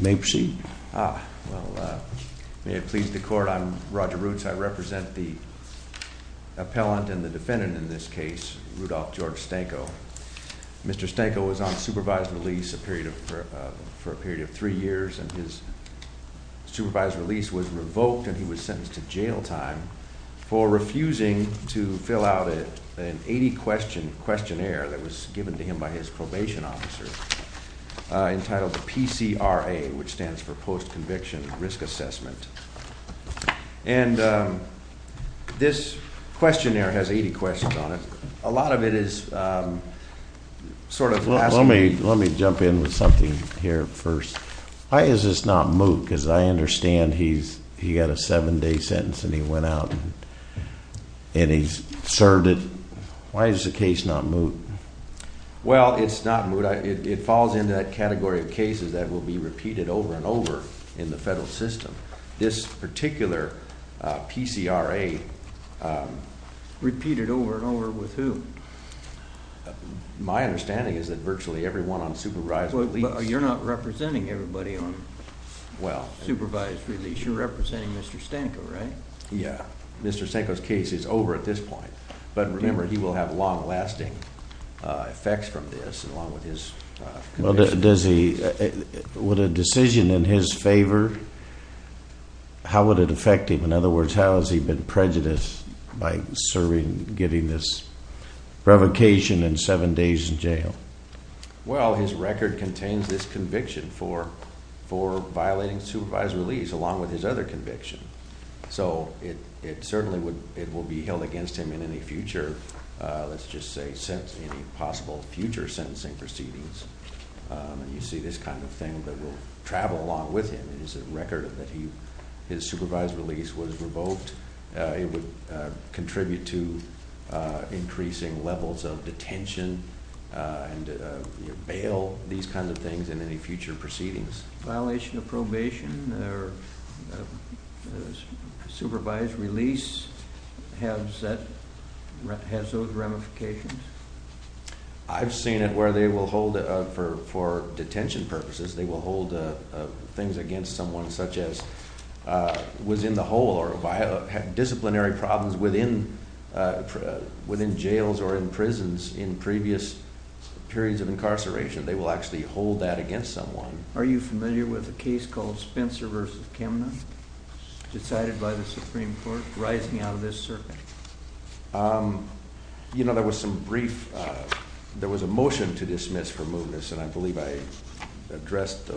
May it please the Court, I'm Roger Roots. I represent the appellant and the defendant in this case, Rudolph George Stanko. Mr. Stanko was on supervised release for a period of three years and his supervised release was revoked and he was sentenced to jail time for refusing to fill out an 80-question questionnaire that was given to him by his probation officer entitled PCRA, which stands for Post-Conviction Risk Assessment. And this questionnaire has 80 questions on it. A lot of it is sort of asking... And he's served it. Why is the case not moot? Well, it's not moot. It falls into that category of cases that will be repeated over and over in the federal system. This particular PCRA... Repeated over and over with who? My understanding is that virtually everyone on supervised release... But you're not representing everybody on supervised release. You're representing Mr. Stanko, right? Yeah. Mr. Stanko's case is over at this point. But remember, he will have long-lasting effects from this along with his conviction. Would a decision in his favor... How would it affect him? In other words, how has he been prejudiced by giving this provocation and seven days in jail? Well, his record contains this conviction for violating supervised release along with his other conviction. So it certainly would... It will be held against him in any future... Let's just say any possible future sentencing proceedings. And you see this kind of thing that will travel along with him. It is a record that his supervised release was revoked. It would contribute to increasing levels of detention and bail. These kinds of things in any future proceedings. Violation of probation or supervised release... Has that... Has those ramifications? I've seen it where they will hold for detention purposes. They will hold things against someone such as... Was in the hole or had disciplinary problems within jails or in prisons in previous periods of incarceration. They will actually hold that against someone. Are you familiar with a case called Spencer versus Kimna? Decided by the Supreme Court, rising out of this circuit. You know, there was some brief... There was a motion to dismiss for mootness and I believe I addressed...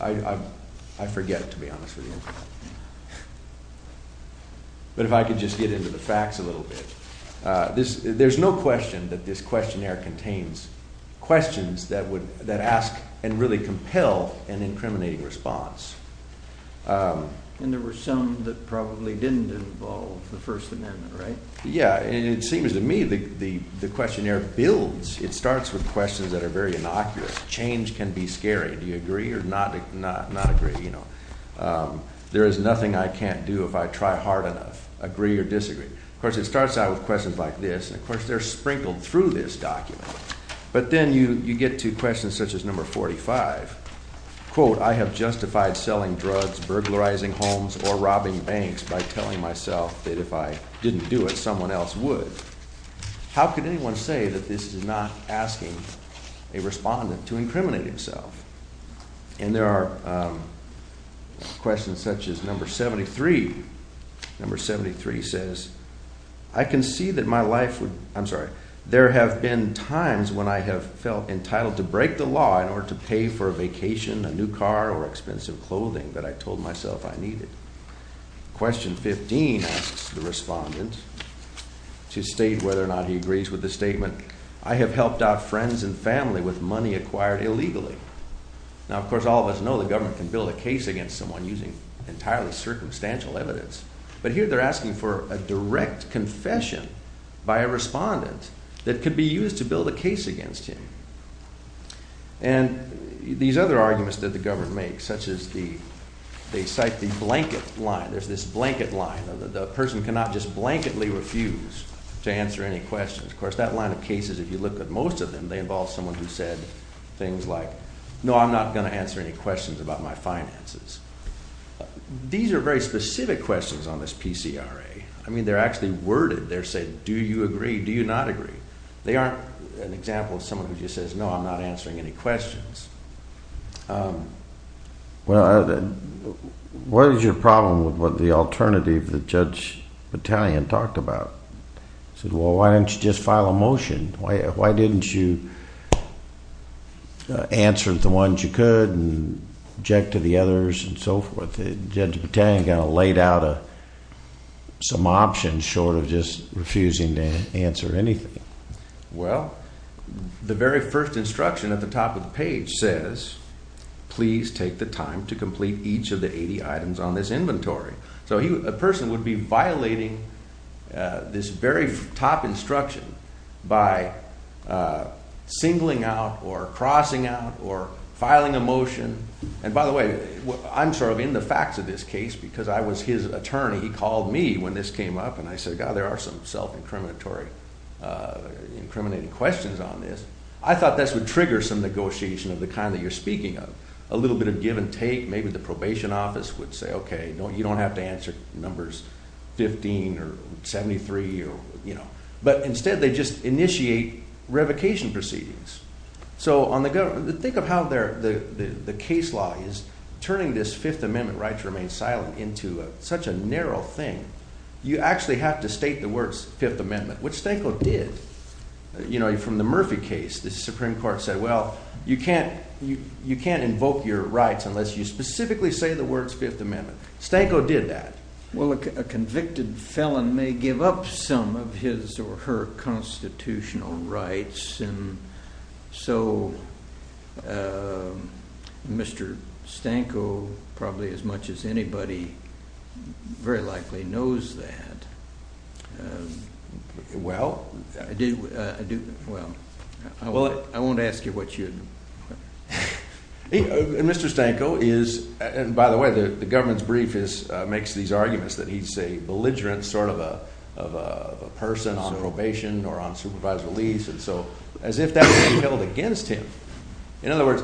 I forget, to be honest with you. But if I could just get into the facts a little bit. There's no question that this questionnaire contains questions that would... That ask and really compel an incriminating response. And there were some that probably didn't involve the First Amendment, right? Yeah, and it seems to me that the questionnaire builds. It starts with questions that are very innocuous. Change can be scary. Do you agree or not agree? There is nothing I can't do if I try hard enough. Agree or disagree. Of course, it starts out with questions like this. Of course, they're sprinkled through this document. But then you get to questions such as number 45. Quote, I have justified selling drugs, burglarizing homes, or robbing banks by telling myself that if I didn't do it, someone else would. How could anyone say that this is not asking a respondent to incriminate himself? And there are questions such as number 73. Number 73 says, I can see that my life would... I'm sorry. There have been times when I have felt entitled to break the law in order to pay for a vacation, a new car, or expensive clothing that I told myself I needed. Question 15 asks the respondent to state whether or not he agrees with the statement, I have helped out friends and family with money acquired illegally. Now, of course, all of us know the government can build a case against someone using entirely circumstantial evidence. But here they're asking for a direct confession by a respondent that could be used to build a case against him. And these other arguments that the government makes, such as they cite the blanket line. There's this blanket line. The person cannot just blankedly refuse to answer any questions. Of course, that line of cases, if you look at most of them, they involve someone who said things like, no, I'm not going to answer any questions about my finances. These are very specific questions on this PCRA. I mean, they're actually worded. They're saying, do you agree? Do you not agree? They aren't an example of someone who just says, no, I'm not answering any questions. Well, what is your problem with the alternative that Judge Battalion talked about? He said, well, why didn't you just file a motion? Why didn't you answer the ones you could and object to the others and so forth? Judge Battalion kind of laid out some options short of just refusing to answer anything. Well, the very first instruction at the top of the page says, please take the time to complete each of the 80 items on this inventory. So a person would be violating this very top instruction by singling out or crossing out or filing a motion. And by the way, I'm sort of in the facts of this case because I was his attorney. He called me when this came up, and I said, God, there are some self-incriminatory, incriminating questions on this. I thought this would trigger some negotiation of the kind that you're speaking of, a little bit of give and take. Maybe the probation office would say, OK, you don't have to answer numbers 15 or 73. But instead, they just initiate revocation proceedings. So think of how the case law is turning this Fifth Amendment right to remain silent into such a narrow thing. You actually have to state the words Fifth Amendment, which Stanko did. From the Murphy case, the Supreme Court said, well, you can't invoke your rights unless you specifically say the words Fifth Amendment. Stanko did that. Well, a convicted felon may give up some of his or her constitutional rights. And so Mr. Stanko, probably as much as anybody, very likely knows that. Well. I do. Well, I won't ask you what you. Mr. Stanko is, and by the way, the government's brief makes these arguments that he's a belligerent sort of a person on probation or on supervisory leave. And so as if that was held against him. In other words,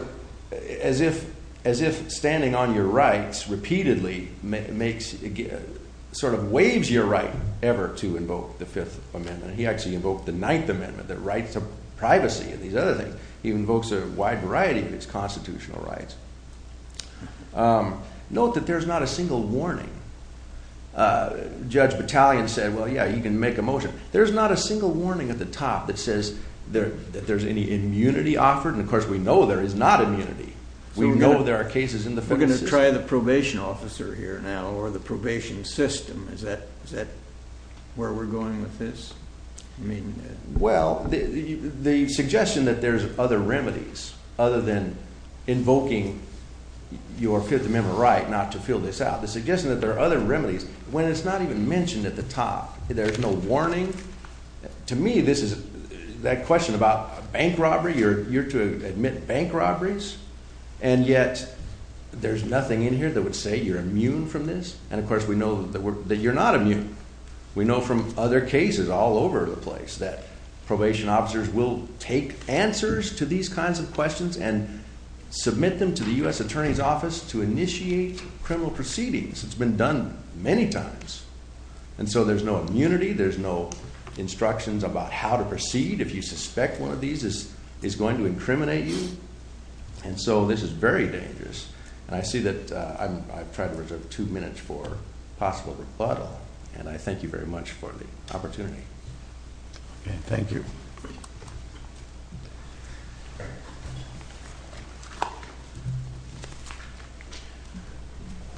as if as if standing on your rights repeatedly makes sort of waives your right ever to invoke the Fifth Amendment. He actually invoked the Ninth Amendment, the right to privacy and these other things. He invokes a wide variety of his constitutional rights. Note that there's not a single warning. Judge Battalion said, well, yeah, you can make a motion. There's not a single warning at the top that says that there's any immunity offered. And, of course, we know there is not immunity. We know there are cases in the. We're going to try the probation officer here now or the probation system. Is that is that where we're going with this? I mean, well, the suggestion that there's other remedies other than invoking your Fifth Amendment right not to fill this out. The suggestion that there are other remedies when it's not even mentioned at the top, there's no warning. To me, this is that question about bank robbery or you're to admit bank robberies. And yet there's nothing in here that would say you're immune from this. And, of course, we know that you're not immune. We know from other cases all over the place that probation officers will take answers to these kinds of questions and submit them to the U.S. Attorney's Office to initiate criminal proceedings. It's been done many times. And so there's no immunity. There's no instructions about how to proceed. If you suspect one of these is is going to incriminate you. And so this is very dangerous. And I see that I've tried to reserve two minutes for possible rebuttal. And I thank you very much for the opportunity. Thank you.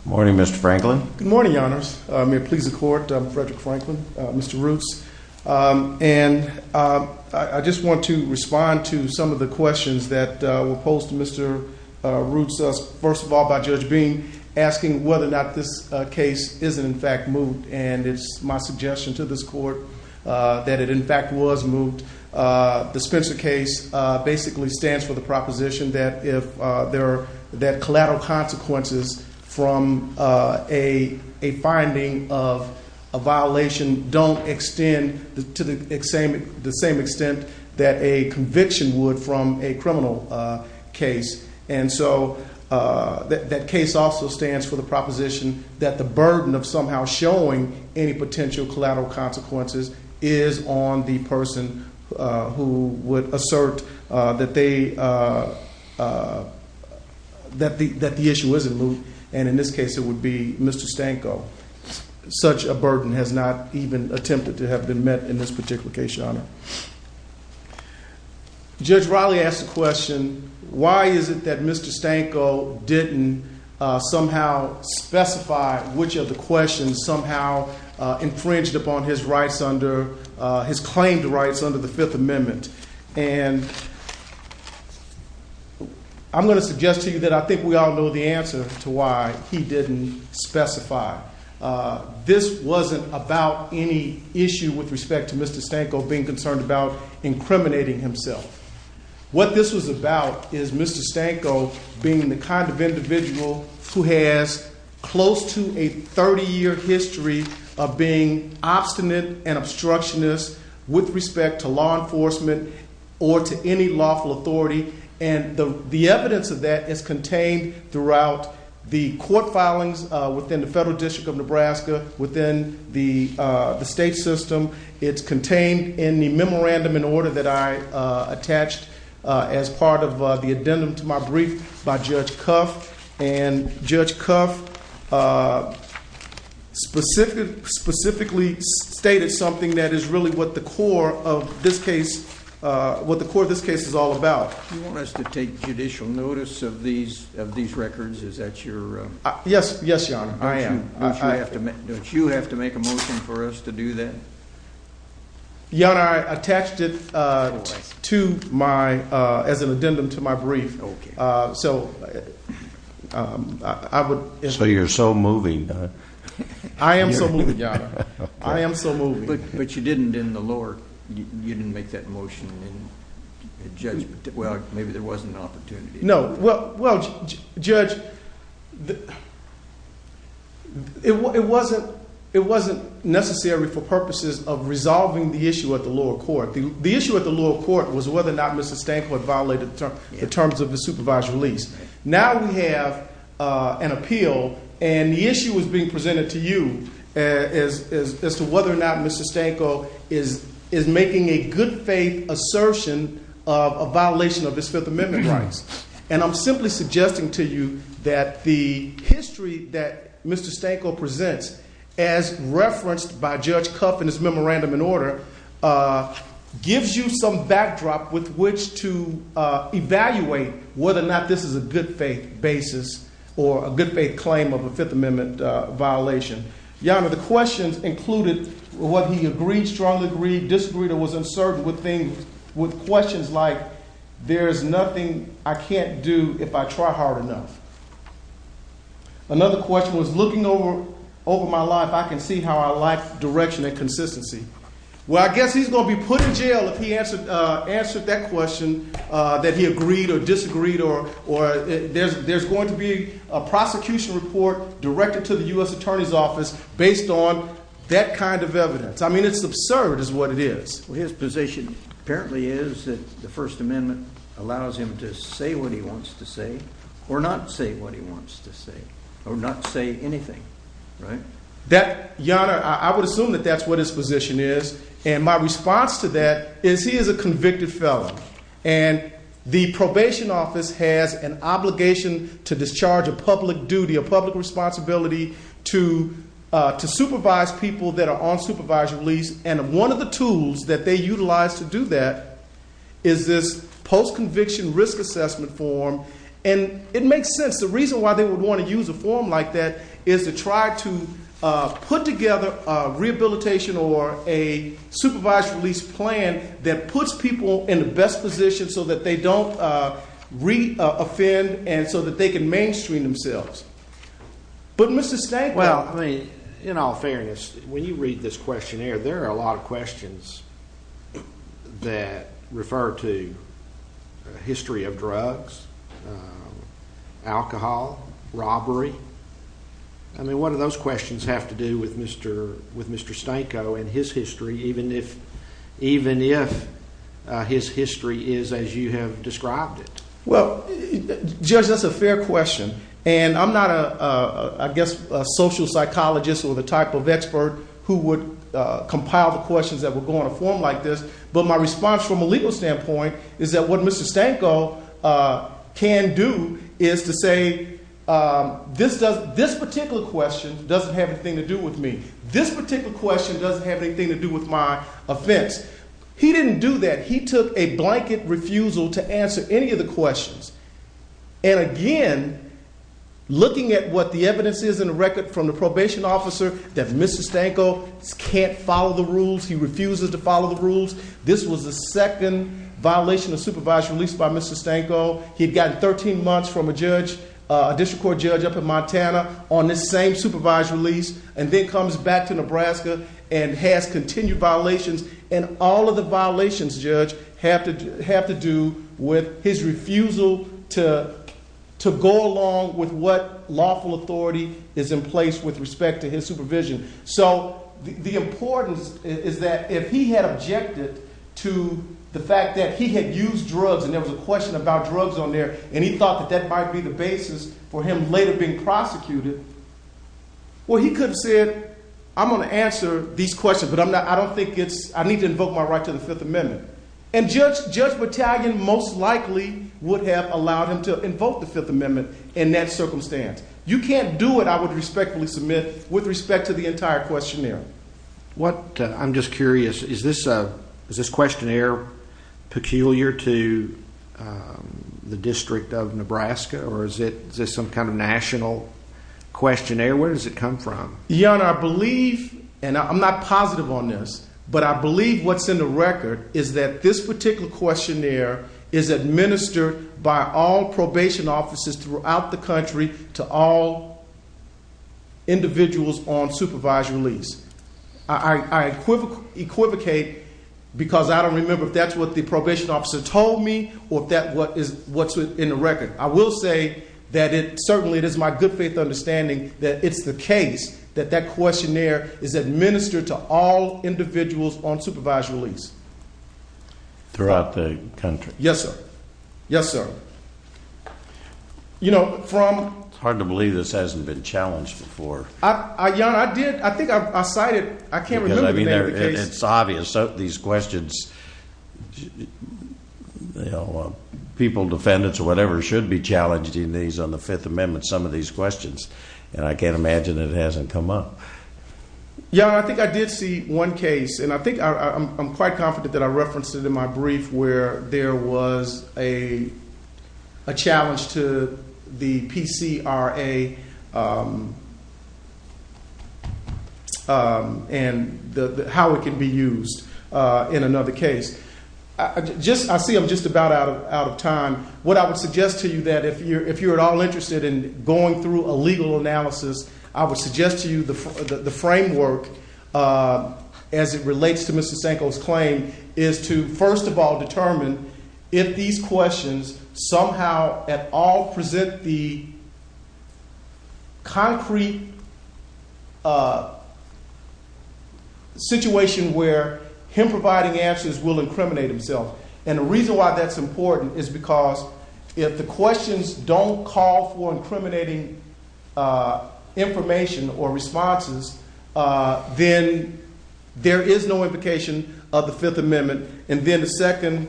Morning, Mr. Franklin. Good morning, Your Honors. May it please the court. I'm Frederick Franklin, Mr. Roots. And I just want to respond to some of the questions that were posed to Mr. Roots. First of all, by Judge Bean asking whether or not this case is, in fact, moved. And it's my suggestion to this court that it, in fact, was moved. The Spencer case basically stands for the proposition that collateral consequences from a finding of a violation don't extend to the same extent that a conviction would from a criminal case. And so that case also stands for the proposition that the burden of somehow showing any potential collateral consequences is on the person who would assert that the issue isn't moved. And in this case, it would be Mr. Stanko. Such a burden has not even attempted to have been met in this particular case, Your Honor. Judge Riley asked the question, why is it that Mr. Stanko didn't somehow specify which of the questions somehow infringed upon his rights under – his claimed rights under the Fifth Amendment? And I'm going to suggest to you that I think we all know the answer to why he didn't specify. This wasn't about any issue with respect to Mr. Stanko being concerned about incriminating himself. What this was about is Mr. Stanko being the kind of individual who has close to a 30-year history of being obstinate and obstructionist with respect to law enforcement or to any lawful authority. And the evidence of that is contained throughout the court filings within the Federal District of Nebraska, within the state system. It's contained in the memorandum in order that I attached as part of the addendum to my brief by Judge Cuff. And Judge Cuff specifically stated something that is really what the core of this case is all about. You want us to take judicial notice of these records? Is that your – Yes, Your Honor. Don't you have to make a motion for us to do that? Your Honor, I attached it to my – as an addendum to my brief. Okay. So I would – So you're so moving. I am so moving, Your Honor. I am so moving. But you didn't in the lower – you didn't make that motion in the judgment. Well, maybe there wasn't an opportunity. No. Well, Judge, it wasn't necessary for purposes of resolving the issue at the lower court. The issue at the lower court was whether or not Mr. Stanko had violated the terms of the supervised release. Now we have an appeal, and the issue is being presented to you as to whether or not Mr. Stanko is making a good-faith assertion of a violation of his Fifth Amendment rights. And I'm simply suggesting to you that the history that Mr. Stanko presents as referenced by Judge Kuff in his memorandum in order gives you some backdrop with which to evaluate whether or not this is a good-faith basis or a good-faith claim of a Fifth Amendment violation. Your Honor, the questions included whether he agreed, strongly agreed, disagreed, or was uncertain with things – with questions like, there is nothing I can't do if I try hard enough. Another question was, looking over my life, I can see how I lack direction and consistency. Well, I guess he's going to be put in jail if he answered that question, that he agreed or disagreed, or there's going to be a prosecution report directed to the U.S. Attorney's Office based on that kind of evidence. I mean, it's absurd is what it is. Well, his position apparently is that the First Amendment allows him to say what he wants to say or not say what he wants to say or not say anything, right? Your Honor, I would assume that that's what his position is. And my response to that is he is a convicted felon. And the probation office has an obligation to discharge a public duty, a public responsibility to supervise people that are on supervisory release. And one of the tools that they utilize to do that is this post-conviction risk assessment form. And it makes sense. The reason why they would want to use a form like that is to try to put together a rehabilitation or a supervised release plan that puts people in the best position so that they don't re-offend and so that they can mainstream themselves. But, Mr. Stanko. Well, I mean, in all fairness, when you read this questionnaire, there are a lot of questions that refer to history of drugs, alcohol, robbery. I mean, what do those questions have to do with Mr. Stanko and his history, even if his history is as you have described it? Well, Judge, that's a fair question. And I'm not, I guess, a social psychologist or the type of expert who would compile the questions that would go on a form like this. But my response from a legal standpoint is that what Mr. Stanko can do is to say this particular question doesn't have anything to do with me. This particular question doesn't have anything to do with my offense. He didn't do that. He took a blanket refusal to answer any of the questions. And again, looking at what the evidence is in the record from the probation officer that Mr. Stanko can't follow the rules, he refuses to follow the rules. This was the second violation of supervised release by Mr. Stanko. He'd gotten 13 months from a judge, a district court judge up in Montana, on this same supervised release and then comes back to Nebraska and has continued violations. And all of the violations, Judge, have to do with his refusal to go along with what lawful authority is in place with respect to his supervision. So the importance is that if he had objected to the fact that he had used drugs and there was a question about drugs on there and he thought that that might be the basis for him later being prosecuted, well, he could have said, I'm going to answer these questions, but I don't think it's, I need to invoke my right to the Fifth Amendment. And Judge Battalion most likely would have allowed him to invoke the Fifth Amendment in that circumstance. You can't do it, I would respectfully submit, with respect to the entire questionnaire. I'm just curious, is this questionnaire peculiar to the District of Nebraska or is it some kind of national questionnaire? Where does it come from? Your Honor, I believe, and I'm not positive on this, but I believe what's in the record is that this particular questionnaire is administered by all probation officers throughout the country to all individuals on supervised release. I equivocate because I don't remember if that's what the probation officer told me or if that's what's in the record. I will say that it certainly is my good faith understanding that it's the case that that questionnaire is administered to all individuals on supervised release. Throughout the country? Yes, sir. Yes, sir. You know, from… It's hard to believe this hasn't been challenged before. Your Honor, I did, I think I cited, I can't remember the name of the case. It's obvious that these questions, you know, people, defendants or whatever should be challenged in these, on the Fifth Amendment, some of these questions. And I can't imagine it hasn't come up. Your Honor, I think I did see one case, and I think I'm quite confident that I referenced it in my brief where there was a challenge to the PCRA and how it can be used in another case. I see I'm just about out of time. What I would suggest to you that if you're at all interested in going through a legal analysis, I would suggest to you the framework as it relates to Mr. Sanko's claim is to first of all determine if these questions somehow at all present the concrete situation where him providing answers will incriminate himself. And the reason why that's important is because if the questions don't call for incriminating information or responses, then there is no implication of the Fifth Amendment. And then the second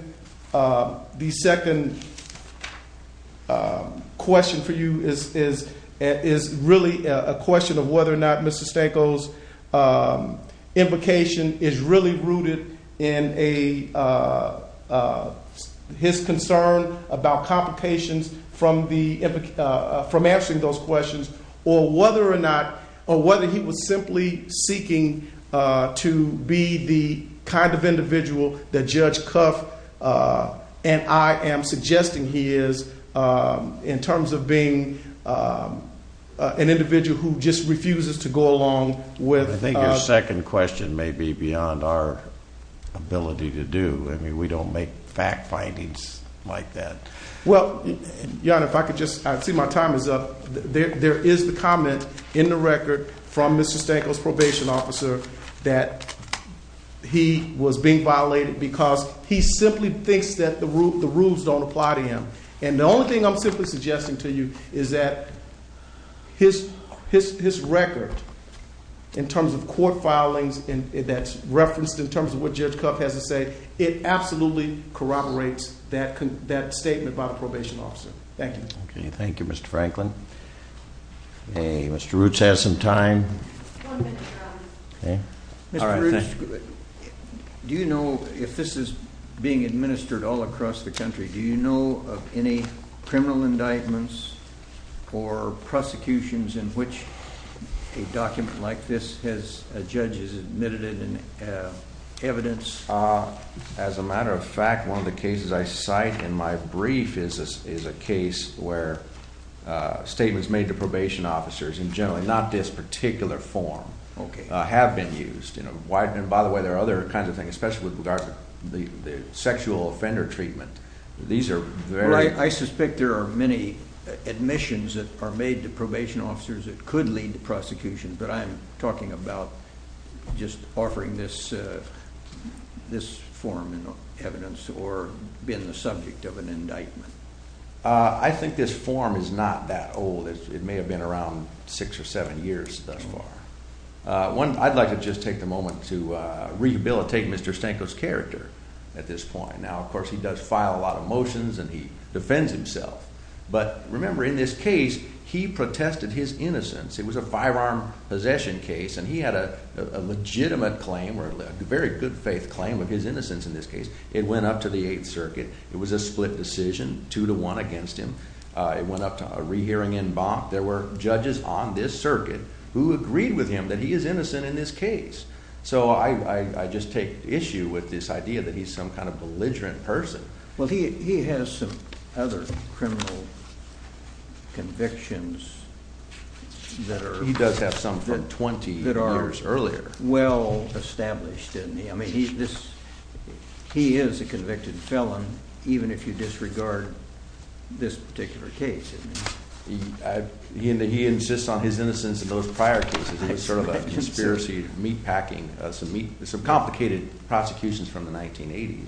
question for you is really a question of whether or not Mr. Sanko's implication is really rooted in his concern about complications from answering those questions or whether he was simply seeking to be the kind of individual that Judge Cuff and I am suggesting he is in terms of being an individual who just refuses to go along with... I think your second question may be beyond our ability to do. I mean, we don't make fact findings like that. Well, Jan, if I could just... I see my time is up. There is the comment in the record from Mr. Sanko's probation officer that he was being violated because he simply thinks that the rules don't apply to him. And the only thing I'm simply suggesting to you is that his record in terms of court filings that's referenced in terms of what Judge Cuff has to say, it absolutely corroborates that statement by the probation officer. Thank you. Okay, thank you, Mr. Franklin. Hey, Mr. Roots has some time. One minute, John. Mr. Roots, do you know, if this is being administered all across the country, do you know of any criminal indictments or prosecutions in which a document like this has... a judge has admitted it in evidence? As a matter of fact, one of the cases I cite in my brief is a case where statements made to probation officers in generally not this particular form... Okay. ...have been used. And by the way, there are other kinds of things, especially with regard to the sexual offender treatment. These are very... Well, I suspect there are many admissions that are made to probation officers that could lead to prosecution, but I'm talking about just offering this form in evidence or being the subject of an indictment. I think this form is not that old. It may have been around six or seven years thus far. I'd like to just take a moment to rehabilitate Mr. Stanko's character at this point. Now, of course, he does file a lot of motions and he defends himself, but remember, in this case, he protested his innocence. It was a firearm possession case, and he had a legitimate claim or a very good faith claim of his innocence in this case. It went up to the Eighth Circuit. It was a split decision, two to one against him. It went up to a rehearing en banc. There were judges on this circuit who agreed with him that he is innocent in this case. So I just take issue with this idea that he's some kind of belligerent person. Well, he has some other criminal convictions that are... He does have some from 20 years earlier. ...that are well-established. I mean, he is a convicted felon, even if you disregard this particular case. He insists on his innocence in those prior cases. It was sort of a conspiracy meatpacking, some complicated prosecutions from the 1980s.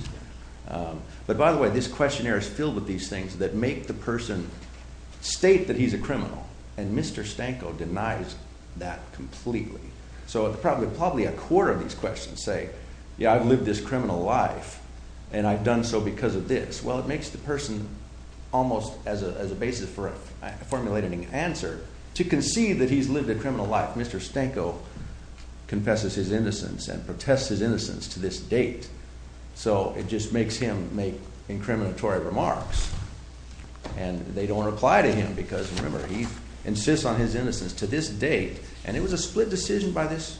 But by the way, this questionnaire is filled with these things that make the person state that he's a criminal, and Mr. Stanko denies that completely. So probably a quarter of these questions say, yeah, I've lived this criminal life, and I've done so because of this. Well, it makes the person almost as a basis for a formulated answer to concede that he's lived a criminal life. Mr. Stanko confesses his innocence and protests his innocence to this date. So it just makes him make incriminatory remarks, and they don't reply to him because, remember, he insists on his innocence to this date. And it was a split decision by this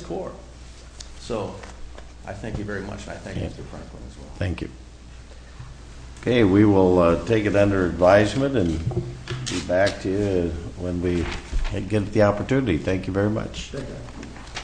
court. So I thank you very much, and I thank Mr. Franklin as well. Thank you. Okay, we will take it under advisement and get back to you when we get the opportunity. Thank you very much. Thank you.